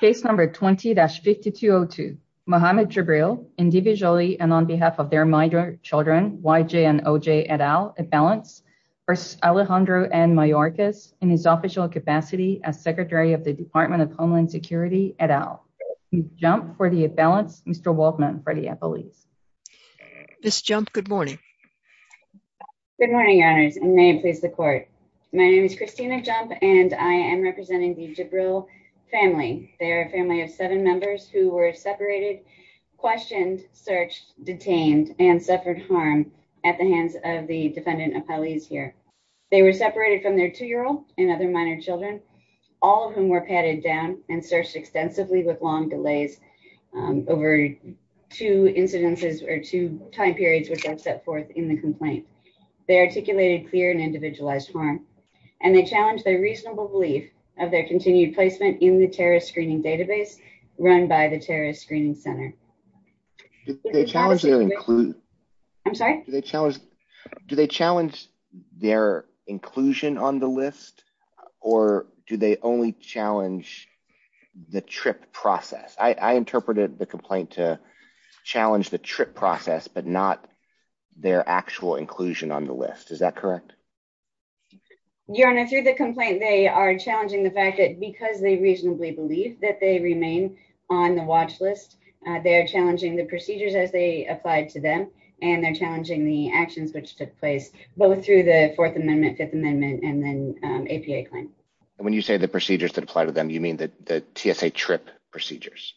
Case number 20-5202, Mohammed Jibril, individually and on behalf of their minor children, Y.J. and O.J. et al, at-balance, v. Alejandro N. Mayorkas, in his official capacity as Secretary of the Department of Homeland Security et al. JMP for the at-balance, Mr. Waldman for the appellees. Ms. JMP, good morning. Good morning, Your Honors, and may it please the Court. My name is Christina JMP, and I am representing the Jibril family. They are a family of seven members who were separated, questioned, searched, detained, and suffered harm at the hands of the defendant appellees here. They were separated from their two-year-old and other minor children, all of whom were patted down and searched extensively with long delays over two incidences or two time periods which I've set forth in the complaint. They articulated clear and individualized harm, and they challenged their reasonable belief of their continued placement in the terrorist screening database run by the terrorist screening center. Do they challenge their inclusion? I'm sorry? Do they challenge their inclusion on the list, or do they only challenge the trip process? I interpreted the complaint to challenge the trip process, but not their actual inclusion on the list. Is that correct? Your Honor, through the complaint, they are challenging the fact that because they reasonably believe that they remain on the watch list, they are challenging the procedures as they applied to them, and they're challenging the actions which took place both through the Fourth Amendment, Fifth Amendment, and then APA claim. When you say the procedures that apply to them, you mean the TSA trip procedures?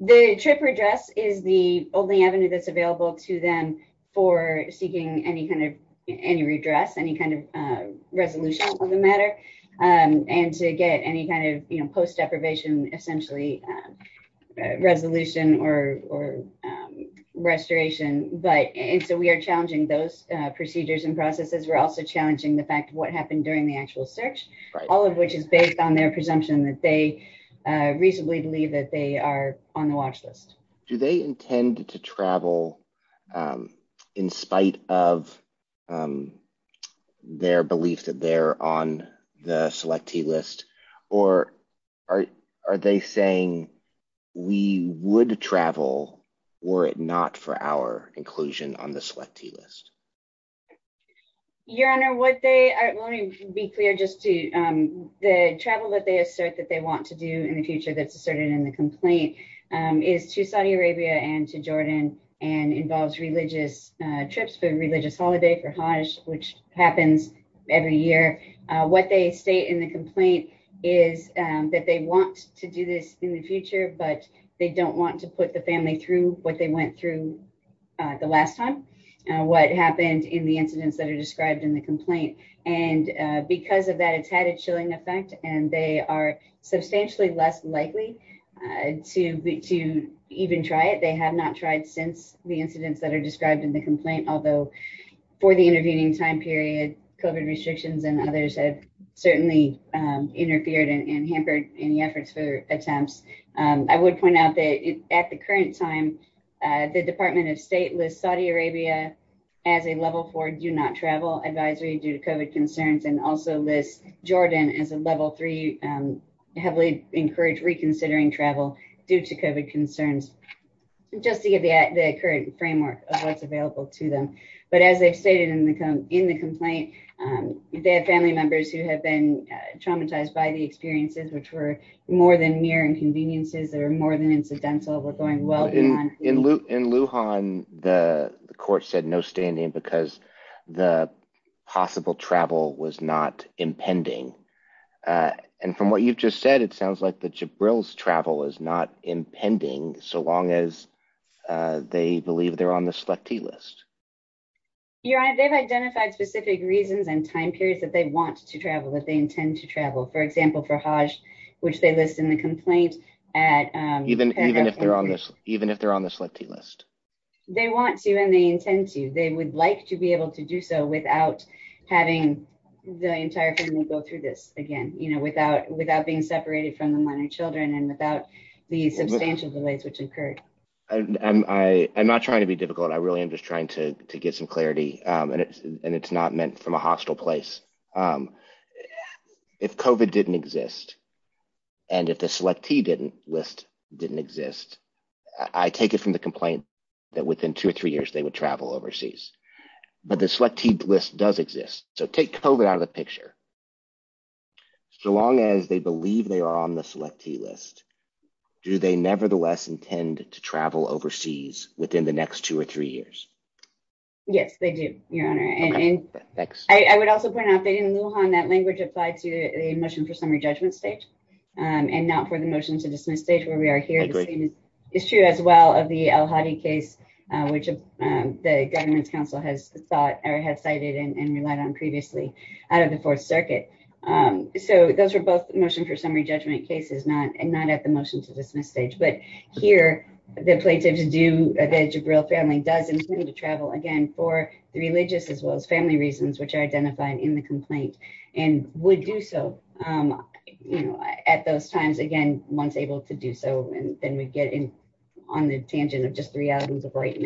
The trip redress is the only avenue that's available to them for seeking any kind of, any redress, any kind of resolution of the matter, and to get any kind of post-deprivation, essentially, resolution or restoration. But, and so we are challenging those procedures and processes. We're also challenging the fact of what happened during the actual search, all of which is based on their presumption Do they intend to travel in spite of their belief that they're on the Selectee List, or are they saying we would travel, were it not for our inclusion on the Selectee List? Your Honor, would they, let me be clear just to, the travel that they assert that they want to do in the future that's asserted in the complaint is to Saudi Arabia and to Jordan and involves religious trips for religious holiday for Hajj, which happens every year. What they state in the complaint is that they want to do this in the future, but they don't want to put the family through what they went through the last time, what happened in the incidents that are described in the complaint. And because of that, it's had a chilling effect and they are substantially less likely to even try it. They have not tried since the incidents that are described in the complaint, although for the intervening time period, COVID restrictions and others have certainly interfered and hampered any efforts for attempts. I would point out that at the current time, the Department of State lists Saudi Arabia as a level four do not travel advisory due to COVID concerns, and also lists Jordan as a level three heavily encouraged reconsidering travel due to COVID concerns. Just to give the current framework of what's available to them. But as they've stated in the complaint, they have family members who have been traumatized by the experiences, which were more than mere inconveniences that are more than incidental, were going well beyond- In Lujan, the court said no standing because the possible travel was not impending. And from what you've just said, it sounds like the Jibril's travel is not impending so long as they believe they're on the selectee list. Your Honor, they've identified specific reasons and time periods that they want to travel, that they intend to travel. For example, for Hajj, which they list in the complaint at- Even if they're on the selectee list. They want to and they intend to. They would like to be able to do so without having the entire family go through this again, without being separated from the minor children and without the substantial delays which occurred. I'm not trying to be difficult. I really am just trying to get some clarity and it's not meant from a hostile place. If COVID didn't exist and if the selectee list didn't exist, I take it from the complaint that within two or three years, they would travel overseas. But the selectee list does exist. So take COVID out of the picture. So long as they believe they are on the selectee list, do they nevertheless intend to travel overseas within the next two or three years? Yes, they do, Your Honor. Okay, thanks. I would also point out that in Lujan, that language applied to the motion for summary judgment stage and not for the motion to dismiss stage where we are here. I agree. It's true as well of the El Hadi case, which the government's council has sought or had cited and relied on previously out of the fourth stage. So those were both motion for summary judgment cases and not at the motion to dismiss stage. But here, the plaintiff's due at the age of real family does intend to travel again for the religious as well as family reasons, which are identified in the complaint and would do so at those times, again, once able to do so. And then we get in on the tangent of just three items of right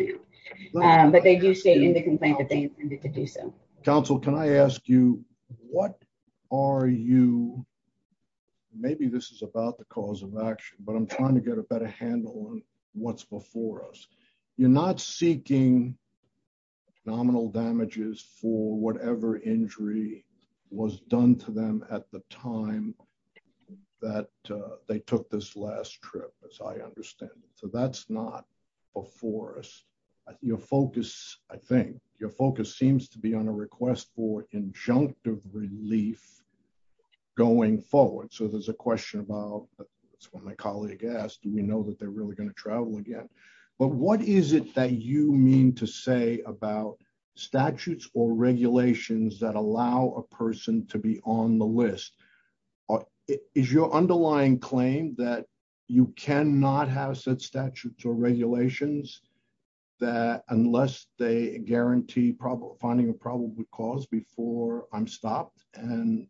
now. But they do stay in the complaint that they intended to do so. Counsel, can I ask you, what are you, maybe this is about the cause of action, but I'm trying to get a better handle on what's before us. You're not seeking nominal damages for whatever injury was done to them at the time that they took this last trip, as I understand it. So that's not before us. Your focus, I think, your focus seems to be on a request for injunctive relief going forward. So there's a question about, it's what my colleague asked, do we know that they're really gonna travel again? But what is it that you mean to say about statutes or regulations that allow a person to be on the list? Is your underlying claim that you cannot have set statutes or regulations that unless they guarantee finding a probable cause before I'm stopped and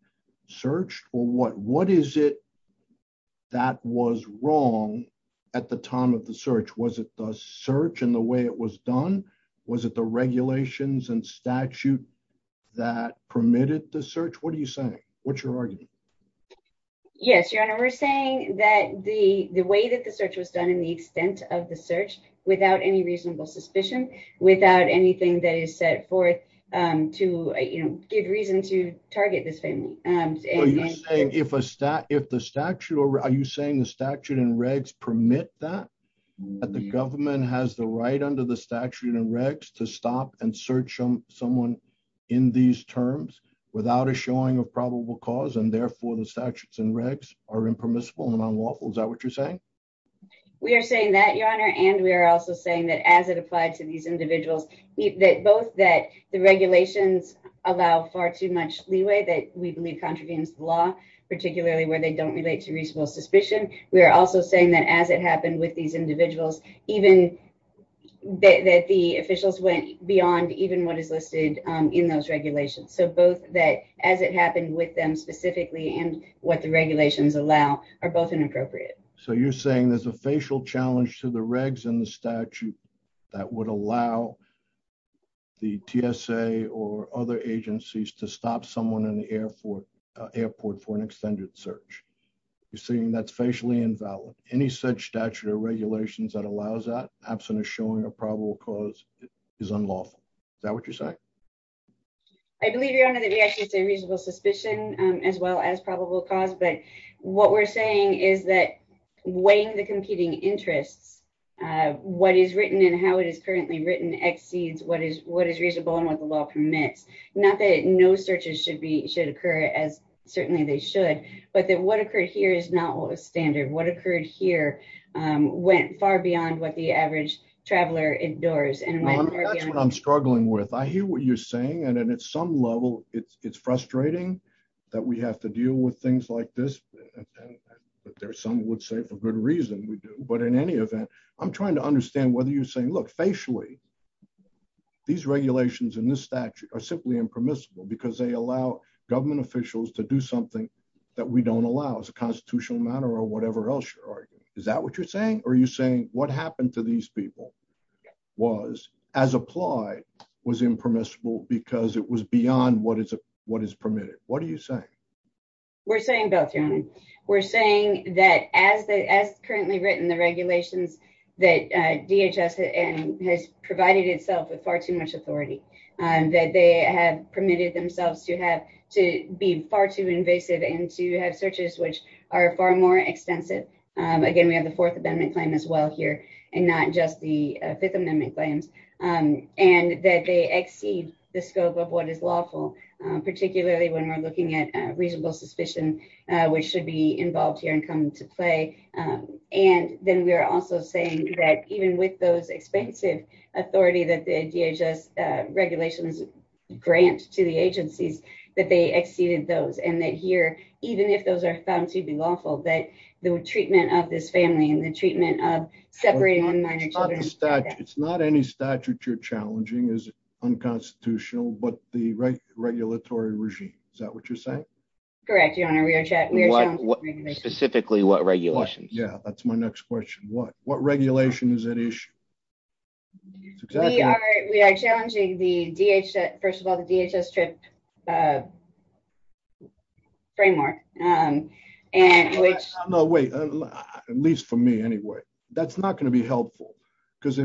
searched? Or what is it that was wrong at the time of the search? Was it the search and the way it was done? Was it the regulations and statute that permitted the search? What are you saying? What's your argument? Yes, Your Honor, we're saying that the way that the search was done and the extent of the search without any reasonable suspicion, without anything that is set forth to give reason to target this family. Well, you're saying if the statute, are you saying the statute and regs permit that? That the government has the right under the statute and regs to stop and search someone in these terms without a showing of probable cause and therefore the statutes and regs are impermissible and unlawful, is that what you're saying? We are saying that, Your Honor, and we are also saying that as it applied to these individuals, both that the regulations allow far too much leeway that we believe contravenes the law, particularly where they don't relate to reasonable suspicion. We are also saying that as it happened with these individuals, even that the officials went beyond even what is listed in those regulations. So both that as it happened with them specifically and what the regulations allow are both inappropriate. So you're saying there's a facial challenge to the regs and the statute that would allow the TSA or other agencies to stop someone in the airport for an extended search. You're saying that's facially invalid. Any such statute or regulations that allows that absent of showing a probable cause is unlawful. Is that what you're saying? I believe, Your Honor, that we actually say reasonable suspicion as well as probable cause, but what we're saying is that in the competing interests, what is written and how it is currently written exceeds what is reasonable and what the law permits. Not that no searches should occur as certainly they should, but that what occurred here is not what was standard. What occurred here went far beyond what the average traveler endures. And that's what I'm struggling with. I hear what you're saying. And then at some level, it's frustrating that we have to deal with things like this. But there's some would say for good reason we do. But in any event, I'm trying to understand whether you're saying, look, facially, these regulations in this statute are simply impermissible because they allow government officials to do something that we don't allow as a constitutional matter or whatever else you're arguing. Is that what you're saying? Or are you saying what happened to these people was as applied, was impermissible because it was beyond what is permitted? What are you saying? We're saying both, Your Honor. We're saying that as currently written, the regulations that DHS has provided itself with far too much authority. That they have permitted themselves to be far too invasive and to have searches which are far more extensive. Again, we have the Fourth Amendment claim as well here and not just the Fifth Amendment claims. And that they exceed the scope of what is lawful, particularly when we're looking at reasonable suspicion which should be involved here and come into play. And then we are also saying that even with those expensive authority that the DHS regulations grant to the agencies, that they exceeded those. And that here, even if those are found to be lawful, that the treatment of this family and the treatment of separating one minor children- It's not any statute you're challenging is unconstitutional, but the regulatory regime. Is that what you're saying? Correct, Your Honor. We are challenging regulations. Specifically, what regulations? Yeah, that's my next question. What regulation is at issue? We are challenging the DHS, first of all, the DHS TRIP framework. And which- No, wait, at least for me anyway. That's not gonna be helpful. Because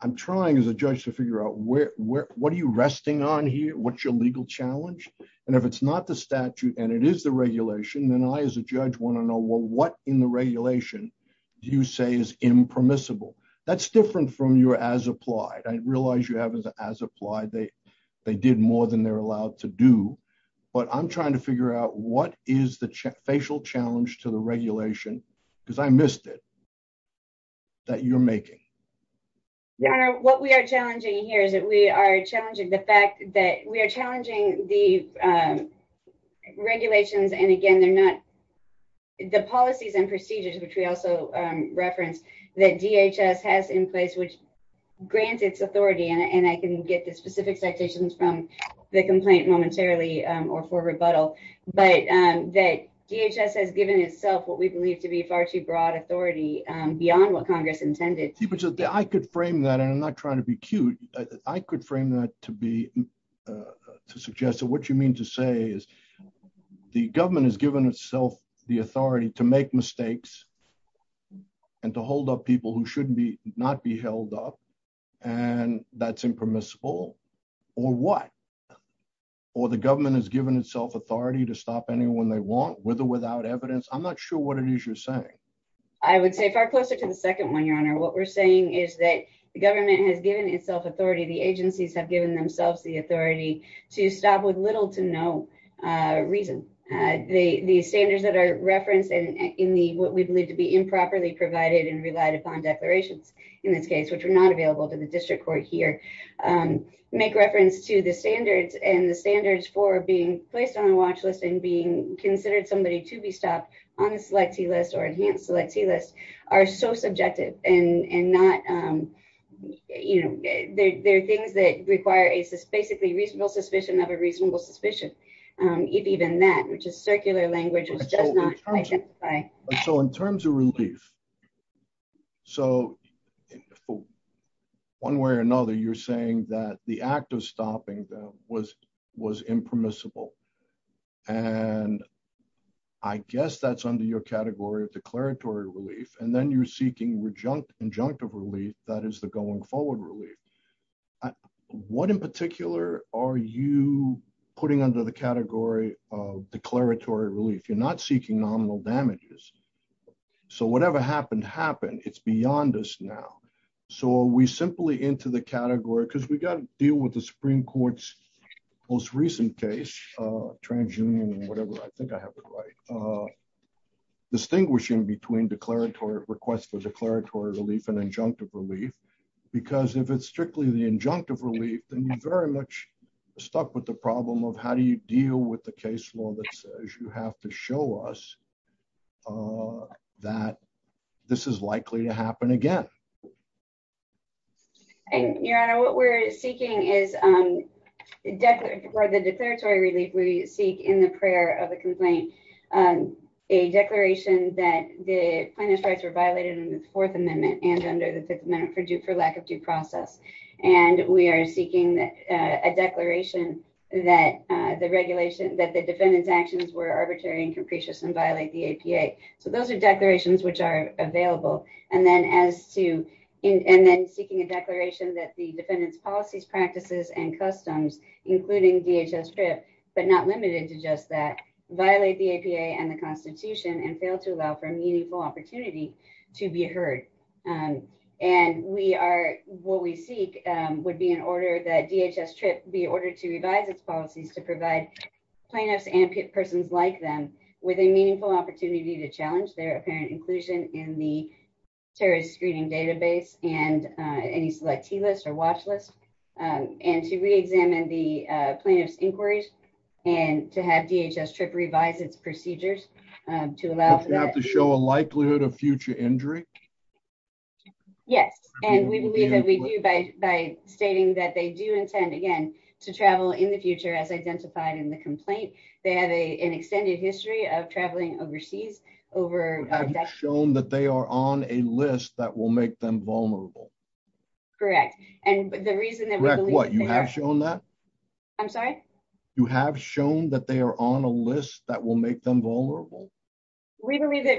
I'm trying as a judge to figure out what are you resting on here? What's your legal challenge? And if it's not the statute and it is the regulation, then I, as a judge, wanna know, well, what in the regulation do you say is impermissible? That's different from your as-applied. I realize you have as-applied. They did more than they're allowed to do. But I'm trying to figure out what is the facial challenge to the regulation? Because I missed it, that you're making. Your Honor, what we are challenging here is that we are challenging the fact that we are challenging the regulations. And again, they're not, the policies and procedures, which we also referenced, that DHS has in place, which grants its authority. And I can get the specific citations from the complaint momentarily or for rebuttal. But that DHS has given itself what we believe to be far too broad authority beyond what Congress intended. I could frame that, and I'm not trying to be cute. I could frame that to suggest that what you mean to say is the government has given itself the authority to make mistakes and to hold up people who should not be held up, and that's impermissible. Or what? Or the government has given itself authority to stop anyone they want, with or without evidence. I'm not sure what it is you're saying. I would say far closer to the second one, Your Honor. What we're saying is that the government has given itself authority, the agencies have given themselves the authority to stop with little to no reason. The standards that are referenced in what we believe to be improperly provided and relied upon declarations, in this case, which are not available to the district court here, make reference to the standards, and the standards for being placed on a watch list and being considered somebody to be stopped on a selectee list or enhanced selectee list are so subjective and not, there are things that require a basically reasonable suspicion of a reasonable suspicion, if even that, which is circular language, which does not identify. So in terms of relief, so, one way or another, you're saying that the act of stopping them was impermissible. And I guess that's under your category of declaratory relief. And then you're seeking injunctive relief, that is the going forward relief. What in particular are you putting under the category of declaratory relief? You're not seeking nominal damages. So whatever happened, happened. It's beyond us now. So are we simply into the category, because we got to deal with the Supreme Court's most recent case, Transunion or whatever, I think I have it right, distinguishing between request for declaratory relief and injunctive relief, because if it's strictly the injunctive relief, then you're very much stuck with the problem of how do you deal with the case law that says you have to show us that this is likely to happen again. And Your Honor, what we're seeking is, for the declaratory relief, we seek in the prayer of the complaint, a declaration that the plaintiff's rights were violated in the Fourth Amendment and under the Fifth Amendment for lack of due process. And we are seeking a declaration that the defendant's actions were arbitrary and capricious and violate the APA. So those are declarations which are available. And then seeking a declaration that the defendant's policies, practices, and customs, including DHS-TRIP, but not limited to just that, violate the APA and the Constitution and fail to allow for a meaningful opportunity to be heard. And what we seek would be in order that DHS-TRIP be ordered to revise its policies to provide plaintiffs and persons like them with a meaningful opportunity to challenge their apparent inclusion in the terrorist screening database and any selectee list or watch list, and to re-examine the plaintiff's inquiries and to have DHS-TRIP revise its procedures to allow for that. But you have to show a likelihood of future injury? Yes, and we believe that we do by stating that they do intend, again, to travel in the future as identified in the complaint. They have an extended history of traveling overseas over- Have shown that they are on a list that will make them vulnerable. Correct, and the reason that we believe- Correct, what, you have shown that? I'm sorry? You have shown that they are on a list that will make them vulnerable? We believe that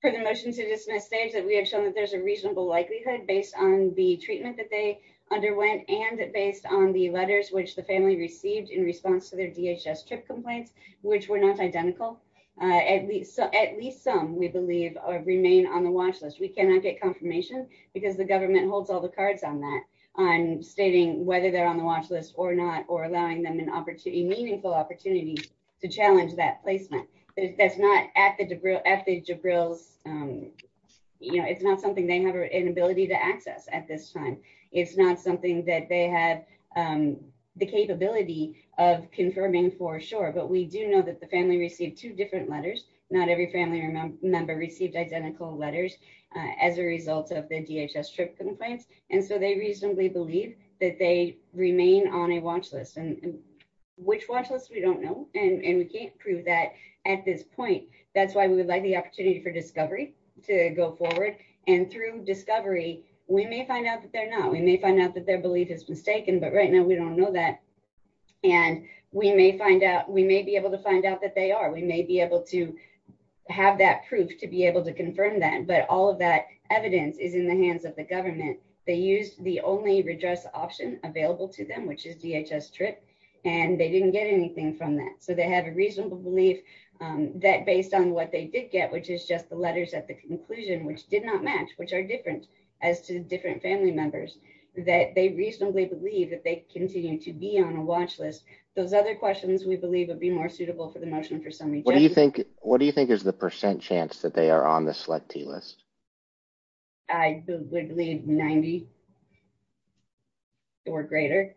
for the motion to dismiss stage that we have shown that there's a reasonable likelihood based on the treatment that they underwent and based on the letters which the family received in response to their DHS-TRIP complaints, which were not identical. At least some, we believe, remain on the watch list. We cannot get confirmation because the government holds all the cards on that, on stating whether they're on the watch list or not, or allowing them a meaningful opportunity to challenge that placement. That's not at the Jabril's, it's not something they have an ability to access at this time. It's not something that they have the capability of confirming for sure, but we do know that the family received two different letters. Not every family member received identical letters as a result of the DHS-TRIP complaints. And so they reasonably believe that they remain on a watch list. And which watch list, we don't know. And we can't prove that at this point. That's why we would like the opportunity for discovery to go forward. And through discovery, we may find out that they're not. We may find out that their belief is mistaken, but right now we don't know that. And we may find out, we may be able to find out that they are. We may be able to have that proof to be able to confirm that. But all of that evidence is in the hands of the government. They used the only redress option available to them, which is DHS-TRIP, and they didn't get anything from that. So they have a reasonable belief that based on what they did get, which is just the letters at the conclusion, which did not match, which are different as to different family members, that they reasonably believe that they continue to be on a watch list. Those other questions we believe would be more suitable for the motion for summary. What do you think is the percent chance that they are on the selectee list? I would believe 90 or greater.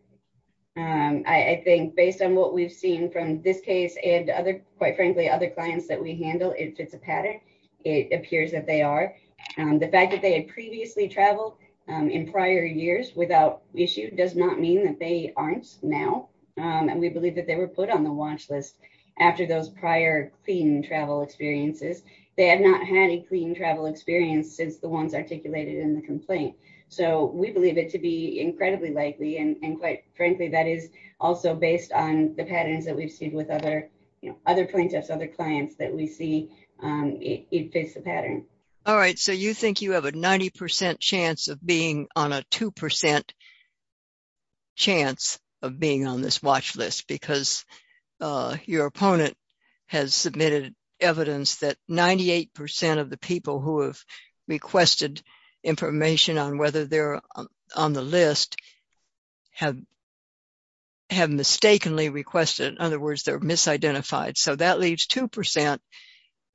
I think based on what we've seen from this case and other, quite frankly, other clients that we handle, if it's a pattern, it appears that they are. The fact that they had previously traveled in prior years without issue does not mean that they aren't now. And we believe that they were put on the watch list after those prior clean travel experiences. They had not had a clean travel experience since the ones articulated in the complaint. So we believe it to be incredibly likely. And quite frankly, that is also based on the patterns that we've seen with other plaintiffs, other clients that we see, it fits the pattern. All right, so you think you have a 90% chance of being on a 2% chance of being on this watch list because your opponent has submitted evidence that 98% of the people who have requested information on whether they're on the list have mistakenly requested. In other words, they're misidentified. So that leaves 2%.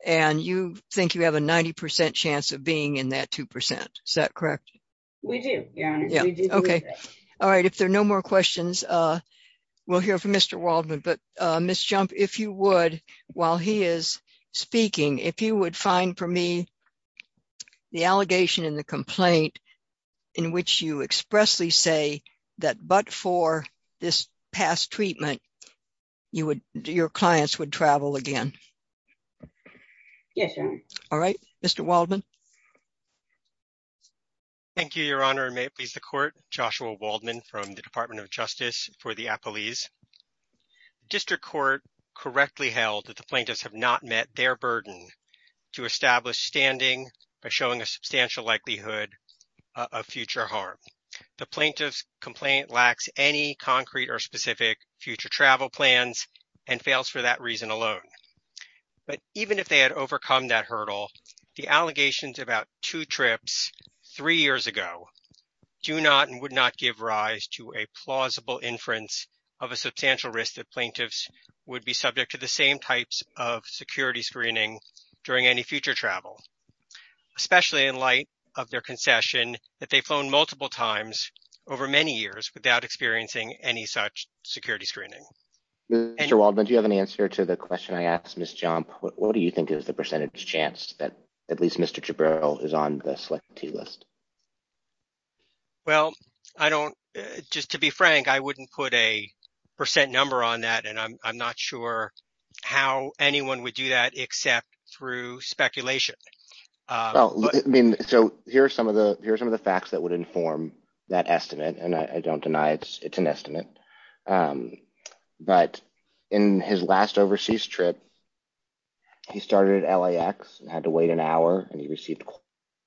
And you think you have a 90% chance of being in that 2%. Is that correct? We do, Your Honor, we do believe that. All right, if there are no more questions, we'll hear from Mr. Waldman. But Ms. Jump, if you would, while he is speaking, if you would find for me the allegation in the complaint in which you expressly say that but for this past treatment, your clients would travel again. Yes, Your Honor. All right, Mr. Waldman. Thank you, Your Honor, and may it please the Court, Joshua Waldman from the Department of Justice for the Appellees. District Court correctly held that the plaintiffs have not met their burden to establish standing by showing a substantial likelihood of future harm. The plaintiff's complaint lacks any concrete or specific future travel plans and fails for that reason alone. But even if they had overcome that hurdle, the allegations about two trips three years ago do not and would not give rise to a plausible inference of a substantial risk that plaintiffs would be subject to the same types of security screening during any future travel, especially in light of their concession that they've flown multiple times over many years without experiencing any such security screening. Mr. Waldman, do you have an answer to the question I asked Ms. Jump? What do you think is the percentage chance that at least Mr. Jabril is on the selected T-list? Well, I don't, just to be frank, I wouldn't put a percent number on that, and I'm not sure how anyone would do that except through speculation. I mean, so here's some of the facts that would inform that estimate, and I don't deny it's an estimate. But in his last overseas trip, he started at LAX and had to wait an hour and he received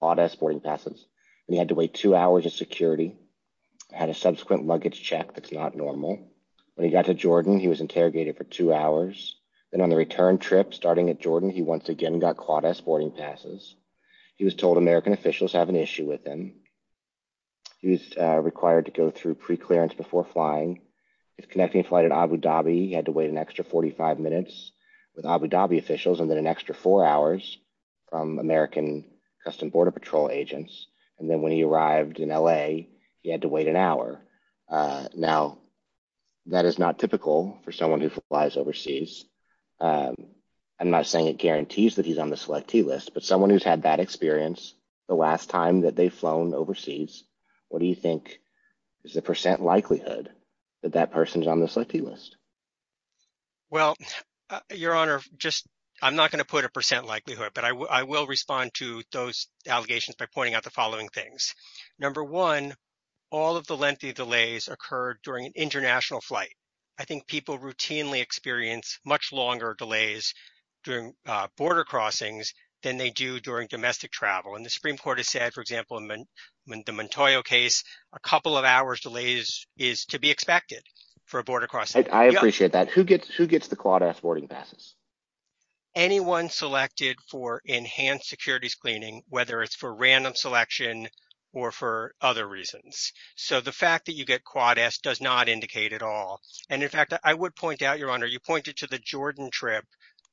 CLAWDAS boarding passes, and he had to wait two hours in security, had a subsequent luggage check that's not normal. When he got to Jordan, he was interrogated for two hours. Then on the return trip, starting at Jordan, he once again got CLAWDAS boarding passes. He was told American officials have an issue with him. He was required to go through preclearance before flying. His connecting flight at Abu Dhabi, he had to wait an extra 45 minutes. With Abu Dhabi officials, and then an extra four hours from American Custom Border Patrol agents. And then when he arrived in LA, he had to wait an hour. Now, that is not typical for someone who flies overseas. I'm not saying it guarantees that he's on the selectee list, but someone who's had that experience the last time that they've flown overseas, what do you think is the percent likelihood that that person's on the selectee list? Well, Your Honor, I'm not going to put a percent likelihood, but I will respond to those allegations by pointing out the following things. Number one, all of the lengthy delays occurred during an international flight. I think people routinely experience much longer delays during border crossings than they do during domestic travel. And the Supreme Court has said, for example, in the Montoya case, a couple of hours delay is to be expected for a border crossing. I appreciate that. Who gets the Quad S boarding passes? Anyone selected for enhanced securities cleaning, whether it's for random selection or for other reasons. So the fact that you get Quad S does not indicate at all. And in fact, I would point out, Your Honor, you pointed to the Jordan trip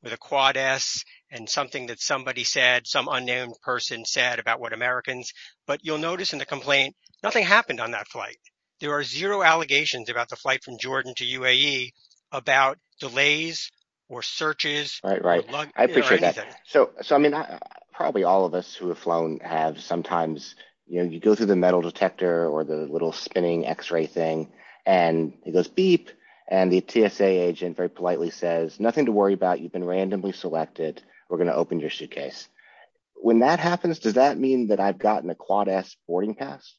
with a Quad S and something that somebody said, some unnamed person said about what Americans, but you'll notice in the complaint, nothing happened on that flight. There are zero allegations about the flight from Jordan to UAE about delays or searches. Right, right. I appreciate that. So, I mean, probably all of us who have flown have sometimes, you know, you go through the metal detector or the little spinning X-ray thing and it goes beep and the TSA agent very politely says, nothing to worry about, you've been randomly selected. We're going to open your suitcase. When that happens, does that mean that I've gotten a Quad S boarding pass?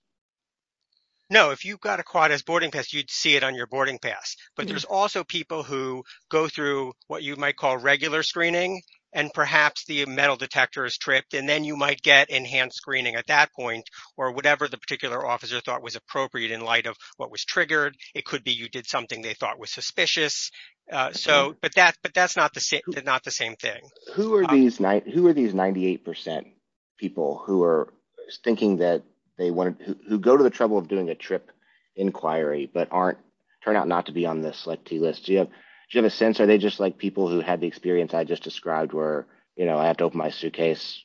No, if you've got a Quad S boarding pass, you'd see it on your boarding pass. But there's also people who go through what you might call regular screening and perhaps the metal detector is tripped and then you might get enhanced screening at that point or whatever the particular officer thought was appropriate in light of what was triggered. It could be you did something they thought was suspicious. So, but that's not the same thing. Who are these 98% people who are thinking that they want to go to the trouble of doing a trip inquiry, but turn out not to be on the selectee list? Do you have a sense? Are they just like people who had the experience I just described where, you know, I have to open my suitcase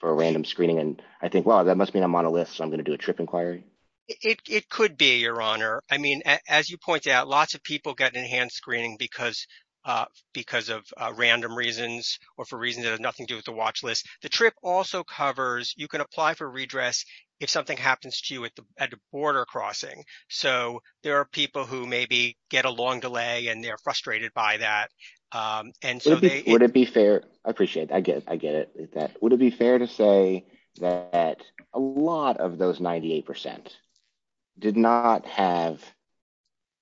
for a random screening and I think, well, that must mean I'm on a list. So I'm going to do a trip inquiry. It could be, Your Honor. I mean, as you pointed out, lots of people get enhanced screening because of random reasons or for reasons that have nothing to do with the watch list. The trip also covers, you can apply for redress if something happens to you at the border crossing. So there are people who maybe get a long delay and they're frustrated by that. And so they- Would it be fair? I appreciate that. I get it. Would it be fair to say that a lot of those 98% did not have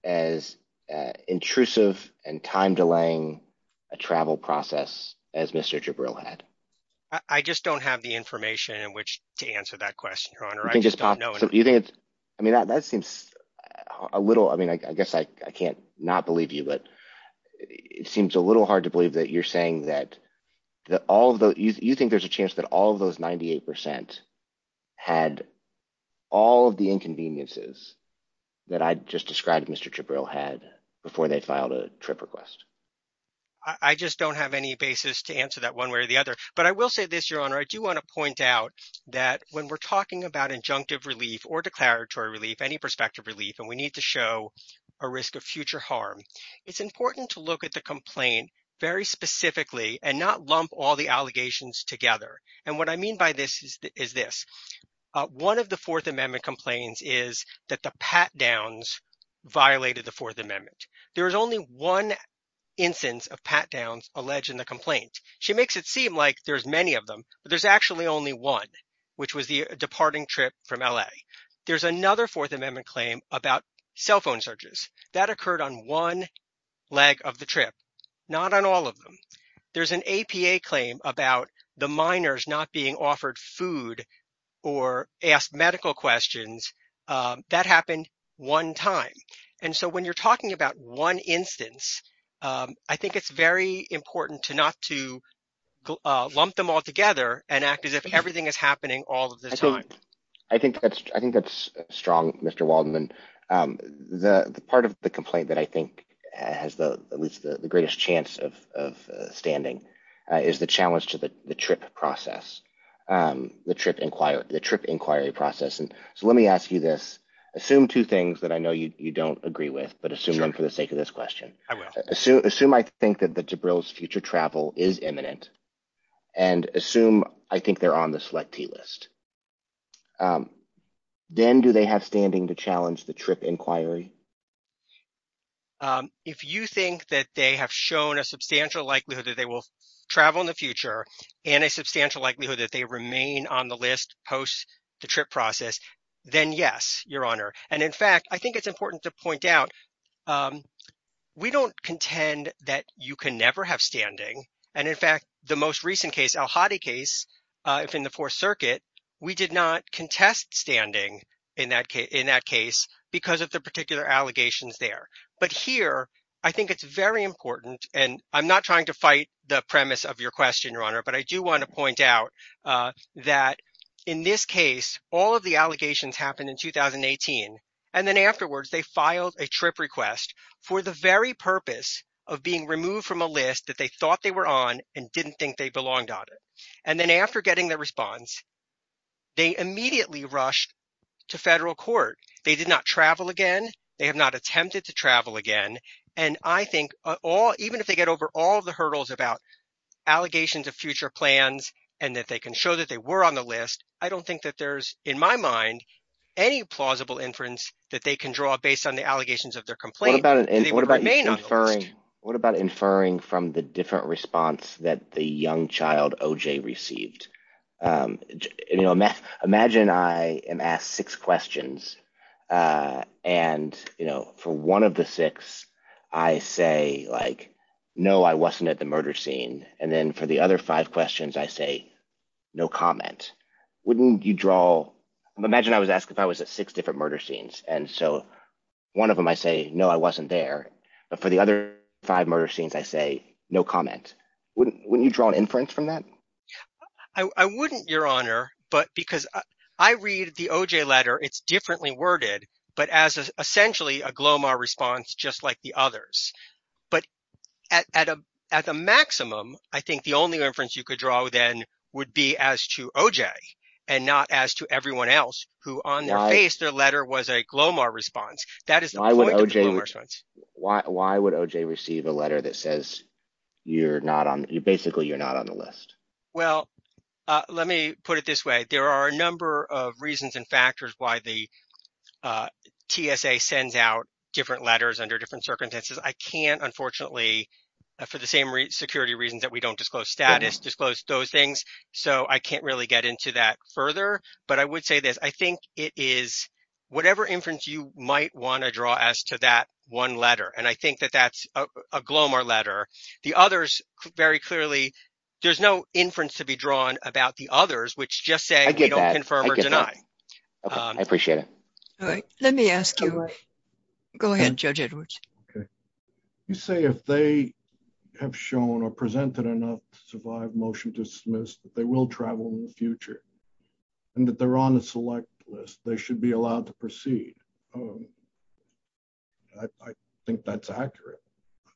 as intrusive and time delaying a travel process as Mr. Jabril had? I just don't have the information in which to answer that question, Your Honor. I just don't know- I mean, that seems a little, I mean, I guess I can't not believe you, but it seems a little hard to believe that you're saying that all of those, you think there's a chance that all of those 98% had all of the inconveniences that I just described Mr. Jabril had before they filed a trip request? I just don't have any basis to answer that one way or the other. But I will say this, Your Honor. I do want to point out that when we're talking about injunctive relief or declaratory relief, any prospective relief, and we need to show a risk of future harm, it's important to look at the complaint very specifically and not lump all the allegations together. And what I mean by this is this. One of the Fourth Amendment complaints is that the pat-downs violated the Fourth Amendment. There was only one instance of pat-downs alleged in the complaint. She makes it seem like there's many of them, but there's actually only one, which was the departing trip from LA. There's another Fourth Amendment claim about cell phone surges. That occurred on one leg of the trip, not on all of them. There's an APA claim about the minors not being offered food or asked medical questions. That happened one time. And so when you're talking about one instance, I think it's very important to not to lump them all together and act as if everything is happening all of the time. I think that's strong, Mr. Waldman. The part of the complaint that I think has at least the greatest chance of standing is the challenge to the trip inquiry process. So let me ask you this. Assume two things that I know you don't agree with, but assume them for the sake of this question. I will. Assume I think that the DeBrill's future travel is imminent and assume I think they're on the selectee list. Then do they have standing to challenge the trip inquiry? If you think that they have shown a substantial likelihood that they will travel in the future and a substantial likelihood that they remain on the list post the trip process, then yes, Your Honor. And in fact, I think it's important to point out, we don't contend that you can never have standing. And in fact, the most recent case, El Hadi case in the Fourth Circuit, we did not contest standing in that case because of the particular allegations there. But here, I think it's very important, and I'm not trying to fight the premise of your question, Your Honor, but I do want to point out that in this case, all of the allegations happened in 2018. for the very purpose of being removed from a list that they thought they were on and didn't think they belonged on it. And then after getting the response, they immediately rushed to federal court. They did not travel again. They have not attempted to travel again. And I think even if they get over all the hurdles about allegations of future plans and that they can show that they were on the list, I don't think that there's, in my mind, any plausible inference that they can draw based on the allegations of their complaint that they may not be on the list. What about inferring from the different response that the young child O.J. received? Imagine I am asked six questions, and for one of the six, I say, no, I wasn't at the murder scene. And then for the other five questions, I say, no comment. Wouldn't you draw, imagine I was asked if I was at six different murder scenes. And so one of them, I say, no, I wasn't there. For the other five murder scenes, I say, no comment. Wouldn't you draw an inference from that? I wouldn't, Your Honor, but because I read the O.J. letter, it's differently worded, but as essentially a Glomar response, just like the others. But at a maximum, I think the only inference you could draw then would be as to O.J. and not as to everyone else who on their face, their letter was a Glomar response. That is the point of the Glomar response. Why would O.J. receive a letter that says, basically, you're not on the list? Well, let me put it this way. There are a number of reasons and factors why the TSA sends out different letters under different circumstances. I can't, unfortunately, for the same security reasons that we don't disclose status, disclose those things. So I can't really get into that further, but I would say this. I think it is, whatever inference you might wanna draw as to that one letter. And I think that that's a Glomar letter. The others, very clearly, there's no inference to be drawn about the others, which just say we don't confirm or deny. Okay, I appreciate it. All right, let me ask you. Go ahead, Judge Edwards. Okay. You say if they have shown or presented enough to survive motion dismissed, that they will travel in the future and that they're on a select list, they should be allowed to proceed. I think that's accurate.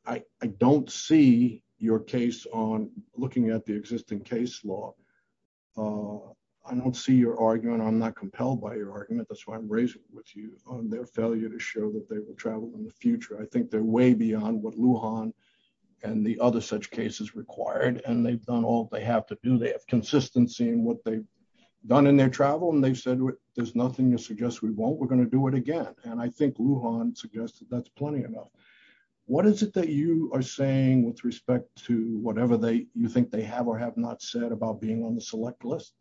I don't see your case on looking at the existing case law. I don't see your argument. I'm not compelled by your argument. That's why I'm raising it with you on their failure to show that they will travel in the future. I think they're way beyond what Lujan and the other such cases required. And they've done all they have to do. They have consistency in what they've done in their travel. And they've said, there's nothing to suggest we won't. We're gonna do it again. And I think Lujan suggested that's plenty enough. What is it that you are saying with respect to whatever you think they have or have not said about being on the select list?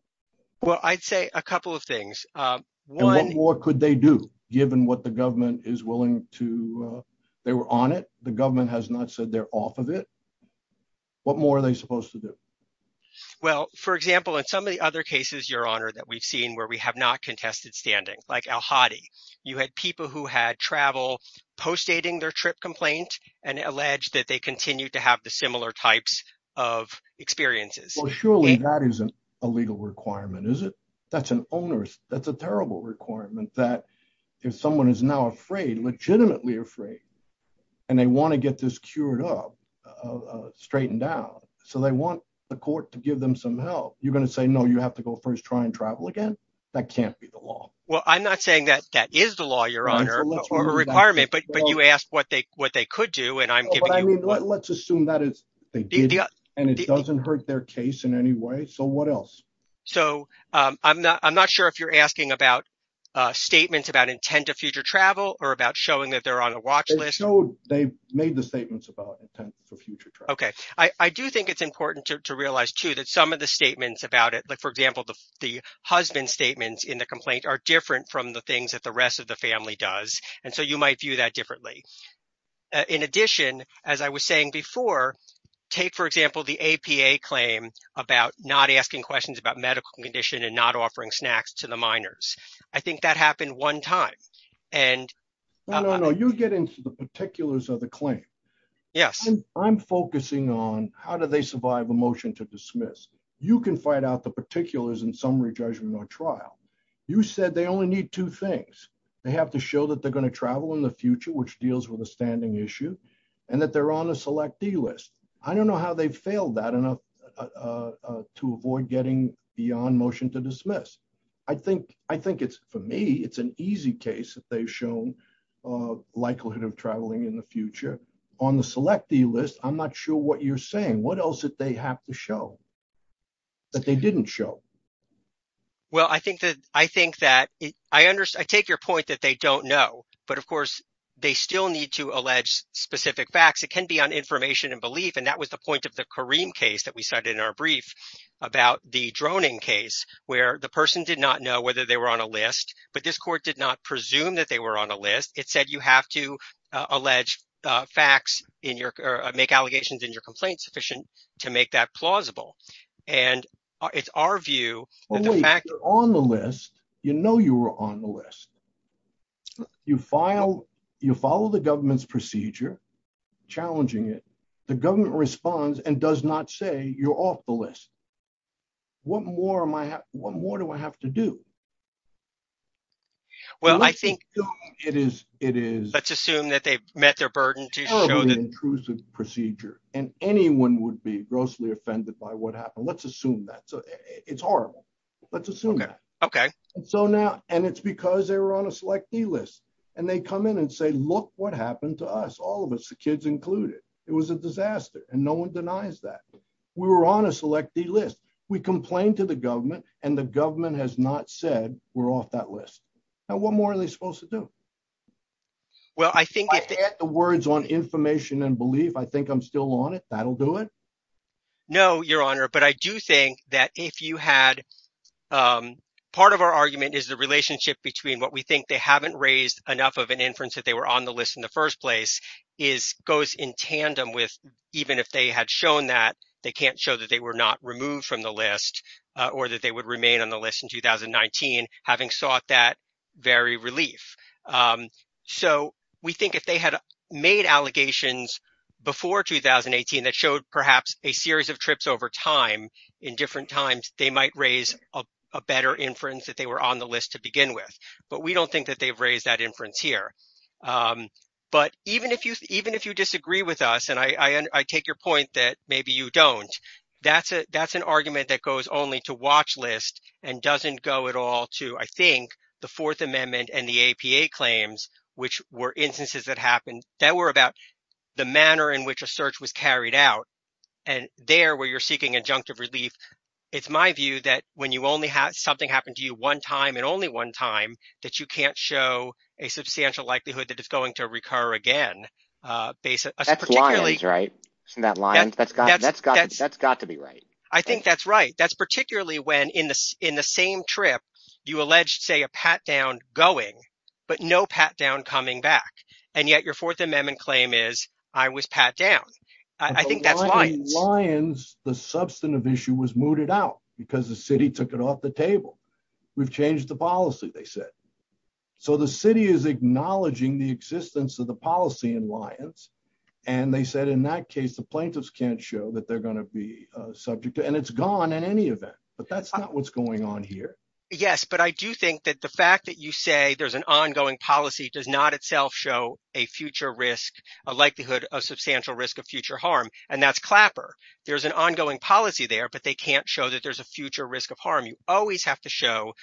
Well, I'd say a couple of things. One- And what more could they do given what the government is willing to... They were on it. The government has not said they're off of it. What more are they supposed to do? Well, for example, in some of the other cases, Your Honor, that we've seen where we have not contested standing, like El Hadi. You had people who had travel postdating their trip complaint and alleged that they continue to have the similar types of experiences. Well, surely that isn't a legal requirement, is it? That's an onerous, that's a terrible requirement that if someone is now afraid, legitimately afraid, and they wanna get this cured up, straightened out. So they want the court to give them some help. You're gonna say, no, you have to go first try and travel again? That can't be the law. Well, I'm not saying that that is the law, Your Honor, or a requirement, but you asked what they could do, and I'm giving you- Let's assume that they did, and it doesn't hurt their case in any way. So what else? So I'm not sure if you're asking about statements about intent of future travel or about showing that they're on a watch list. They've made the statements about intent for future travel. Okay. I do think it's important to realize too that some of the statements about it, like for example, the husband's statements in the complaint are different from the things that the rest of the family does. And so you might view that differently. In addition, as I was saying before, take for example, the APA claim about not asking questions about medical condition and not offering snacks to the minors. I think that happened one time. And- No, no, no. You get into the particulars of the claim. Yes. I'm focusing on how do they survive a motion to dismiss? You can find out the particulars in summary judgment on trial. You said they only need two things. They have to show that they're gonna travel in the future which deals with a standing issue and that they're on a select D list. I don't know how they failed that enough to avoid getting beyond motion to dismiss. I think it's, for me, it's an easy case that they've shown likelihood of traveling in the future. On the select D list, I'm not sure what you're saying. What else did they have to show that they didn't show? Well, I think that, I take your point that they don't know but of course they still need to allege specific facts. It can be on information and belief. And that was the point of the Kareem case that we cited in our brief about the droning case where the person did not know whether they were on a list but this court did not presume that they were on a list. It said you have to allege facts in your, make allegations in your complaint sufficient to make that plausible. And it's our view that the fact- Well, wait, you're on the list. You know, you were on the list. You file, you follow the government's procedure challenging it, the government responds and does not say you're off the list. What more am I, what more do I have to do? Well, I think- It is, it is- Let's assume that they've met their burden to show that- That they shouldn't be grossly offended by what happened. Let's assume that. So it's horrible. Let's assume that. Okay. So now, and it's because they were on a Select D list and they come in and say, look what happened to us. All of us, the kids included. It was a disaster and no one denies that. We were on a Select D list. We complained to the government and the government has not said we're off that list. Now, what more are they supposed to do? Well, I think- If I had the words on information and belief I think I'm still on it, that'll do it? No, Your Honor. But I do think that if you had, part of our argument is the relationship between what we think they haven't raised enough of an inference that they were on the list in the first place is, goes in tandem with even if they had shown that, they can't show that they were not removed from the list or that they would remain on the list in 2019 having sought that very relief. So we think if they had made allegations before 2018 that showed perhaps a series of trips over time in different times, they might raise a better inference that they were on the list to begin with. But we don't think that they've raised that inference here. But even if you disagree with us, and I take your point that maybe you don't, that's an argument that goes only to watch list and doesn't go at all to, I think, the Fourth Amendment and the APA claims, which were instances that happened that were about the manner in which a search was carried out and there where you're seeking adjunctive relief. It's my view that when you only have something happened to you one time and only one time that you can't show a substantial likelihood that it's going to recur again, basically. That's got to be right. I think that's right. That's particularly when in the same trip, you alleged say a pat down going, but no pat down coming back. And yet your Fourth Amendment claim is, I was pat down. I think that's lions. Lions, the substantive issue was mooted out because the city took it off the table. We've changed the policy, they said. So the city is acknowledging the existence of the policy in lions. And they said, in that case, the plaintiffs can't show that they're going to be subject to, and it's gone in any event, but that's not what's going on here. Yes, but I do think that the fact that you say there's an ongoing policy does not itself show a future risk, a likelihood of substantial risk of future harm, and that's clapper. There's an ongoing policy there, but they can't show that there's a future risk of harm. You always have to show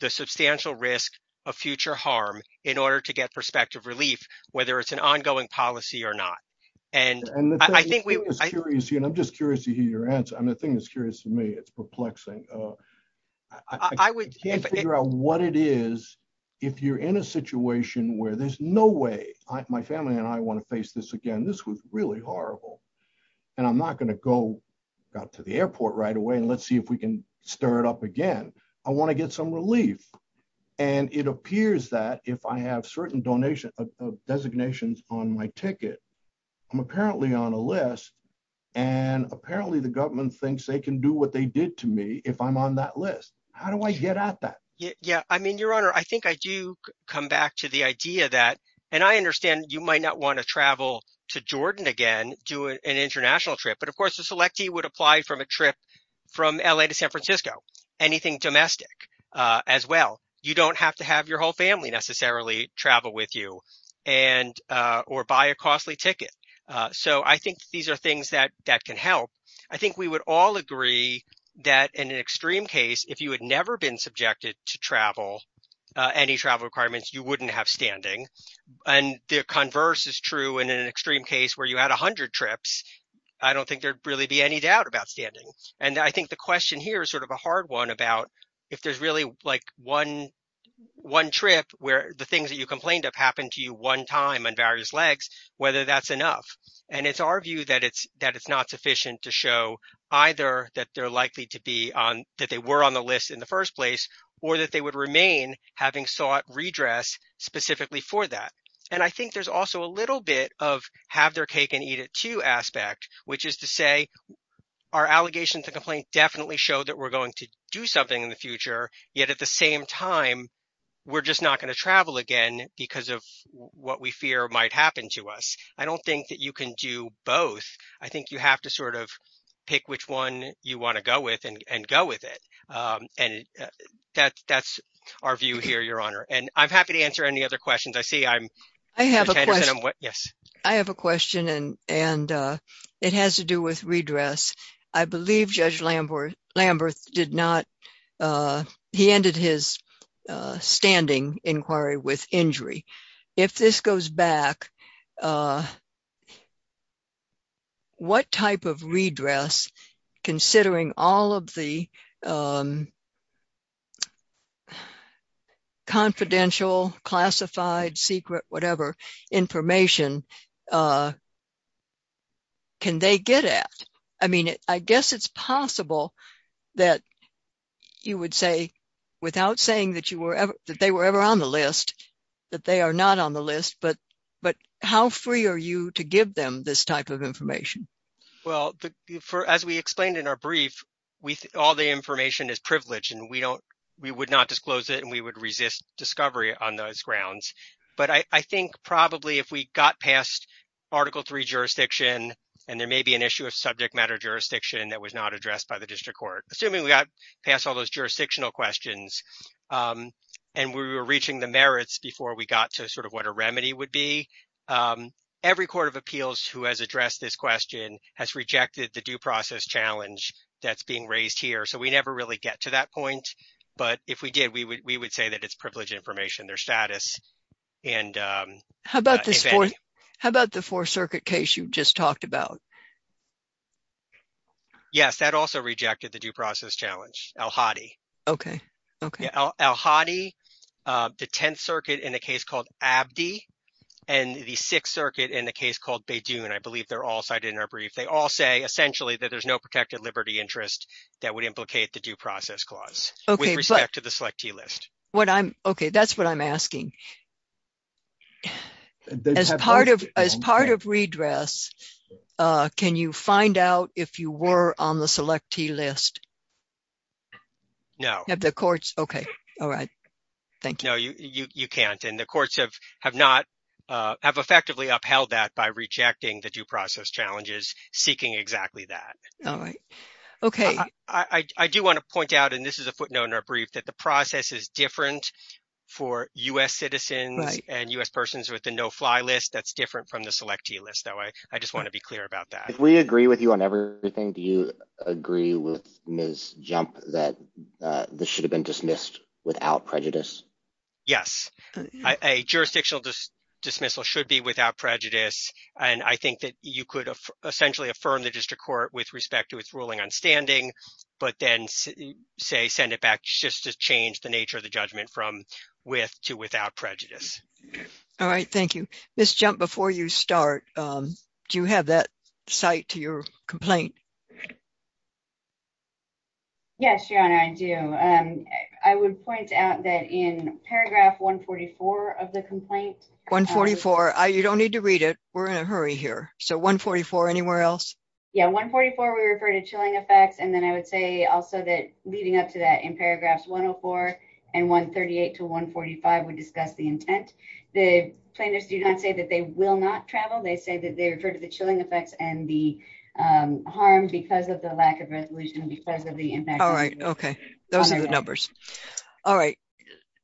the substantial risk of future harm in order to get prospective relief, whether it's an ongoing policy or not. And I think we- And the thing that's curious, and I'm just curious to hear your answer. And the thing that's curious to me, it's perplexing. I can't figure out what it is if you're in a situation where there's no way, my family and I want to face this again. This was really horrible. And I'm not going to go out to the airport right away and let's see if we can stir it up again. I want to get some relief. And it appears that if I have certain donations, designations on my ticket, I'm apparently on a list. And apparently the government thinks they can do what they did to me if I'm on that list. How do I get at that? Yeah, I mean, Your Honor, I think I do come back to the idea that, and I understand you might not want to travel to Jordan again, do an international trip. But of course, a selectee would apply from a trip from LA to San Francisco, anything domestic as well. You don't have to have your whole family necessarily travel with you and, or buy a costly ticket. So I think these are things that can help. I think we would all agree that in an extreme case, if you had never been subjected to travel, any travel requirements, you wouldn't have standing. And the converse is true in an extreme case where you had a hundred trips, I don't think there'd really be any doubt about standing. And I think the question here is sort of a hard one about if there's really like one trip where the things that you complained of happened to you one time on various legs, whether that's enough. And it's our view that it's not sufficient to show either that they're likely to be on, on the list in the first place, or that they would remain having sought redress specifically for that. And I think there's also a little bit of have their cake and eat it too aspect, which is to say our allegations of complaint definitely show that we're going to do something in the future, yet at the same time, we're just not gonna travel again because of what we fear might happen to us. I don't think that you can do both. I think you have to sort of pick which one you wanna go with and go with it. And that's our view here, Your Honor. And I'm happy to answer any other questions. I see I'm- I have a question. Yes. I have a question and it has to do with redress. I believe Judge Lamberth did not, he ended his standing inquiry with injury. If this goes back, what type of redress considering all of the confidential, classified, secret, whatever information can they get at? I mean, I guess it's possible that you would say without saying that you were ever, that they were ever on the list, that they are not on the list, but how free are you to give them this type of information? Well, as we explained in our brief, all the information is privileged and we would not disclose it and we would resist discovery on those grounds. But I think probably if we got past Article III jurisdiction, and there may be an issue of subject matter jurisdiction that was not addressed by the district court, assuming we got past all those jurisdictional questions and we were reaching the merits before we got to sort of what a remedy would be, every court of appeals who has addressed this question has rejected the due process challenge that's being raised here. So we never really get to that point, but if we did, we would say that it's privileged information, their status and- How about the Fourth Circuit case you just talked about? Yes, that also rejected the due process challenge, Al-Hadi. Okay, okay. Al-Hadi, the Tenth Circuit in a case called Abdi, and the Sixth Circuit in a case called Beydoun. I believe they're all cited in our brief. They all say essentially that there's no protected liberty interest that would implicate the due process clause with respect to the Selectee List. Okay, that's what I'm asking. As part of redress, can you find out if you were on the Selectee List? No. Okay, all right. Thank you. No, you can't. And the courts have effectively upheld that by rejecting the due process challenges, seeking exactly that. All right, okay. I do want to point out, and this is a footnote in our brief, that the process is different for U.S. citizens and U.S. persons with the No-Fly List. That's different from the Selectee List, though I just want to be clear about that. If we agree with you on everything, do you agree with Ms. Jump that this should have been dismissed without prejudice? Yes, a jurisdictional dismissal should be without prejudice. And I think that you could essentially affirm the district court with respect to its ruling on standing, but then, say, send it back just to change the nature of the judgment from with to without prejudice. All right, thank you. Ms. Jump, before you start, do you have that cite to your complaint? Yes, Your Honor, I do. I would point out that in paragraph 144 of the complaint- 144, you don't need to read it. We're in a hurry here. So 144, anywhere else? Yeah, 144, we refer to chilling effects. And then I would say also that leading up to that, in paragraphs 104 and 138 to 145, we discuss the intent. The plaintiffs do not say that they will not travel. They say that they refer to the chilling effects and the harm because of the lack of resolution, because of the impact- All right, okay, those are the numbers. All right,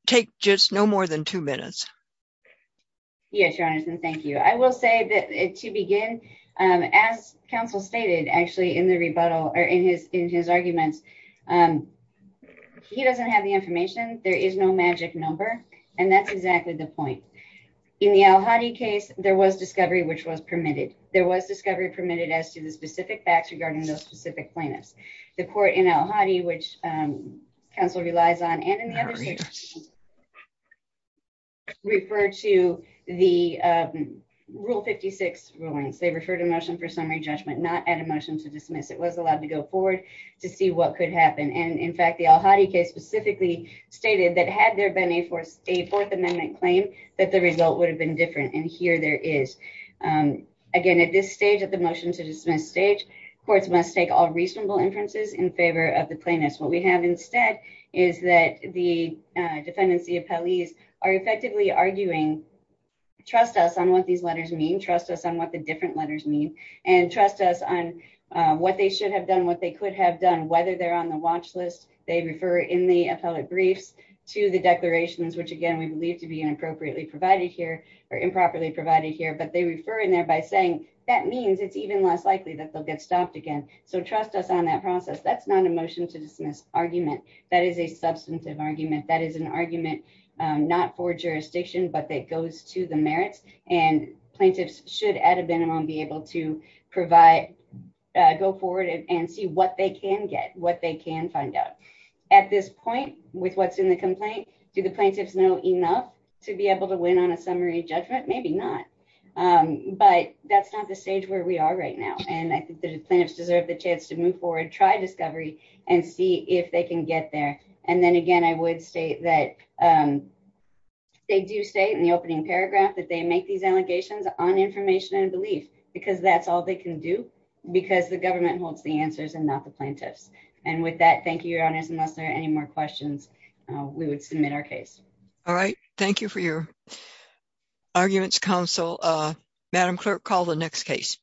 take just no more than two minutes. Yes, Your Honor, and thank you. I will say that to begin, as counsel stated, actually, in the rebuttal or in his arguments, he doesn't have the information. There is no magic number, and that's exactly the point. In the El Hadi case, there was discovery which was permitted. There was discovery permitted as to the specific facts regarding those specific plaintiffs. The court in El Hadi, which counsel relies on, and in the other cases, refer to the Rule 56 rulings. They refer to a motion for summary judgment, not add a motion to dismiss. It was allowed to go forward to see what could happen. And in fact, the El Hadi case specifically stated that had there been a Fourth Amendment claim, that the result would have been different, and here there is. Again, at this stage, at the motion to dismiss stage, courts must take all reasonable inferences in favor of the plaintiffs. What we have instead is that the defendants, the appellees, are effectively arguing, trust us on what these letters mean, trust us on what the different letters mean, and trust us on what they should have done, what they could have done, whether they're on the watch list, they refer in the appellate briefs to the declarations, which again, we believe to be inappropriately provided here or improperly provided here, but they refer in there by saying, that means it's even less likely that they'll get stopped again. So trust us on that process. That's not a motion to dismiss argument. That is a substantive argument. That is an argument, not for jurisdiction, but that goes to the merits, and plaintiffs should at a minimum be able to provide, go forward and see what they can get, what they can find out. At this point, with what's in the complaint, do the plaintiffs know enough to be able to win on a summary judgment? Maybe not, but that's not the stage where we are right now. And I think the plaintiffs deserve the chance to move forward, try discovery, and see if they can get there. And then again, I would state that, they do state in the opening paragraph that they make these allegations on information and belief, because that's all they can do, because the government holds the answers and not the plaintiffs. And with that, thank you, your honors, unless there are any more questions, we would submit our case. All right, thank you for your arguments, counsel. Madam clerk, call the next case.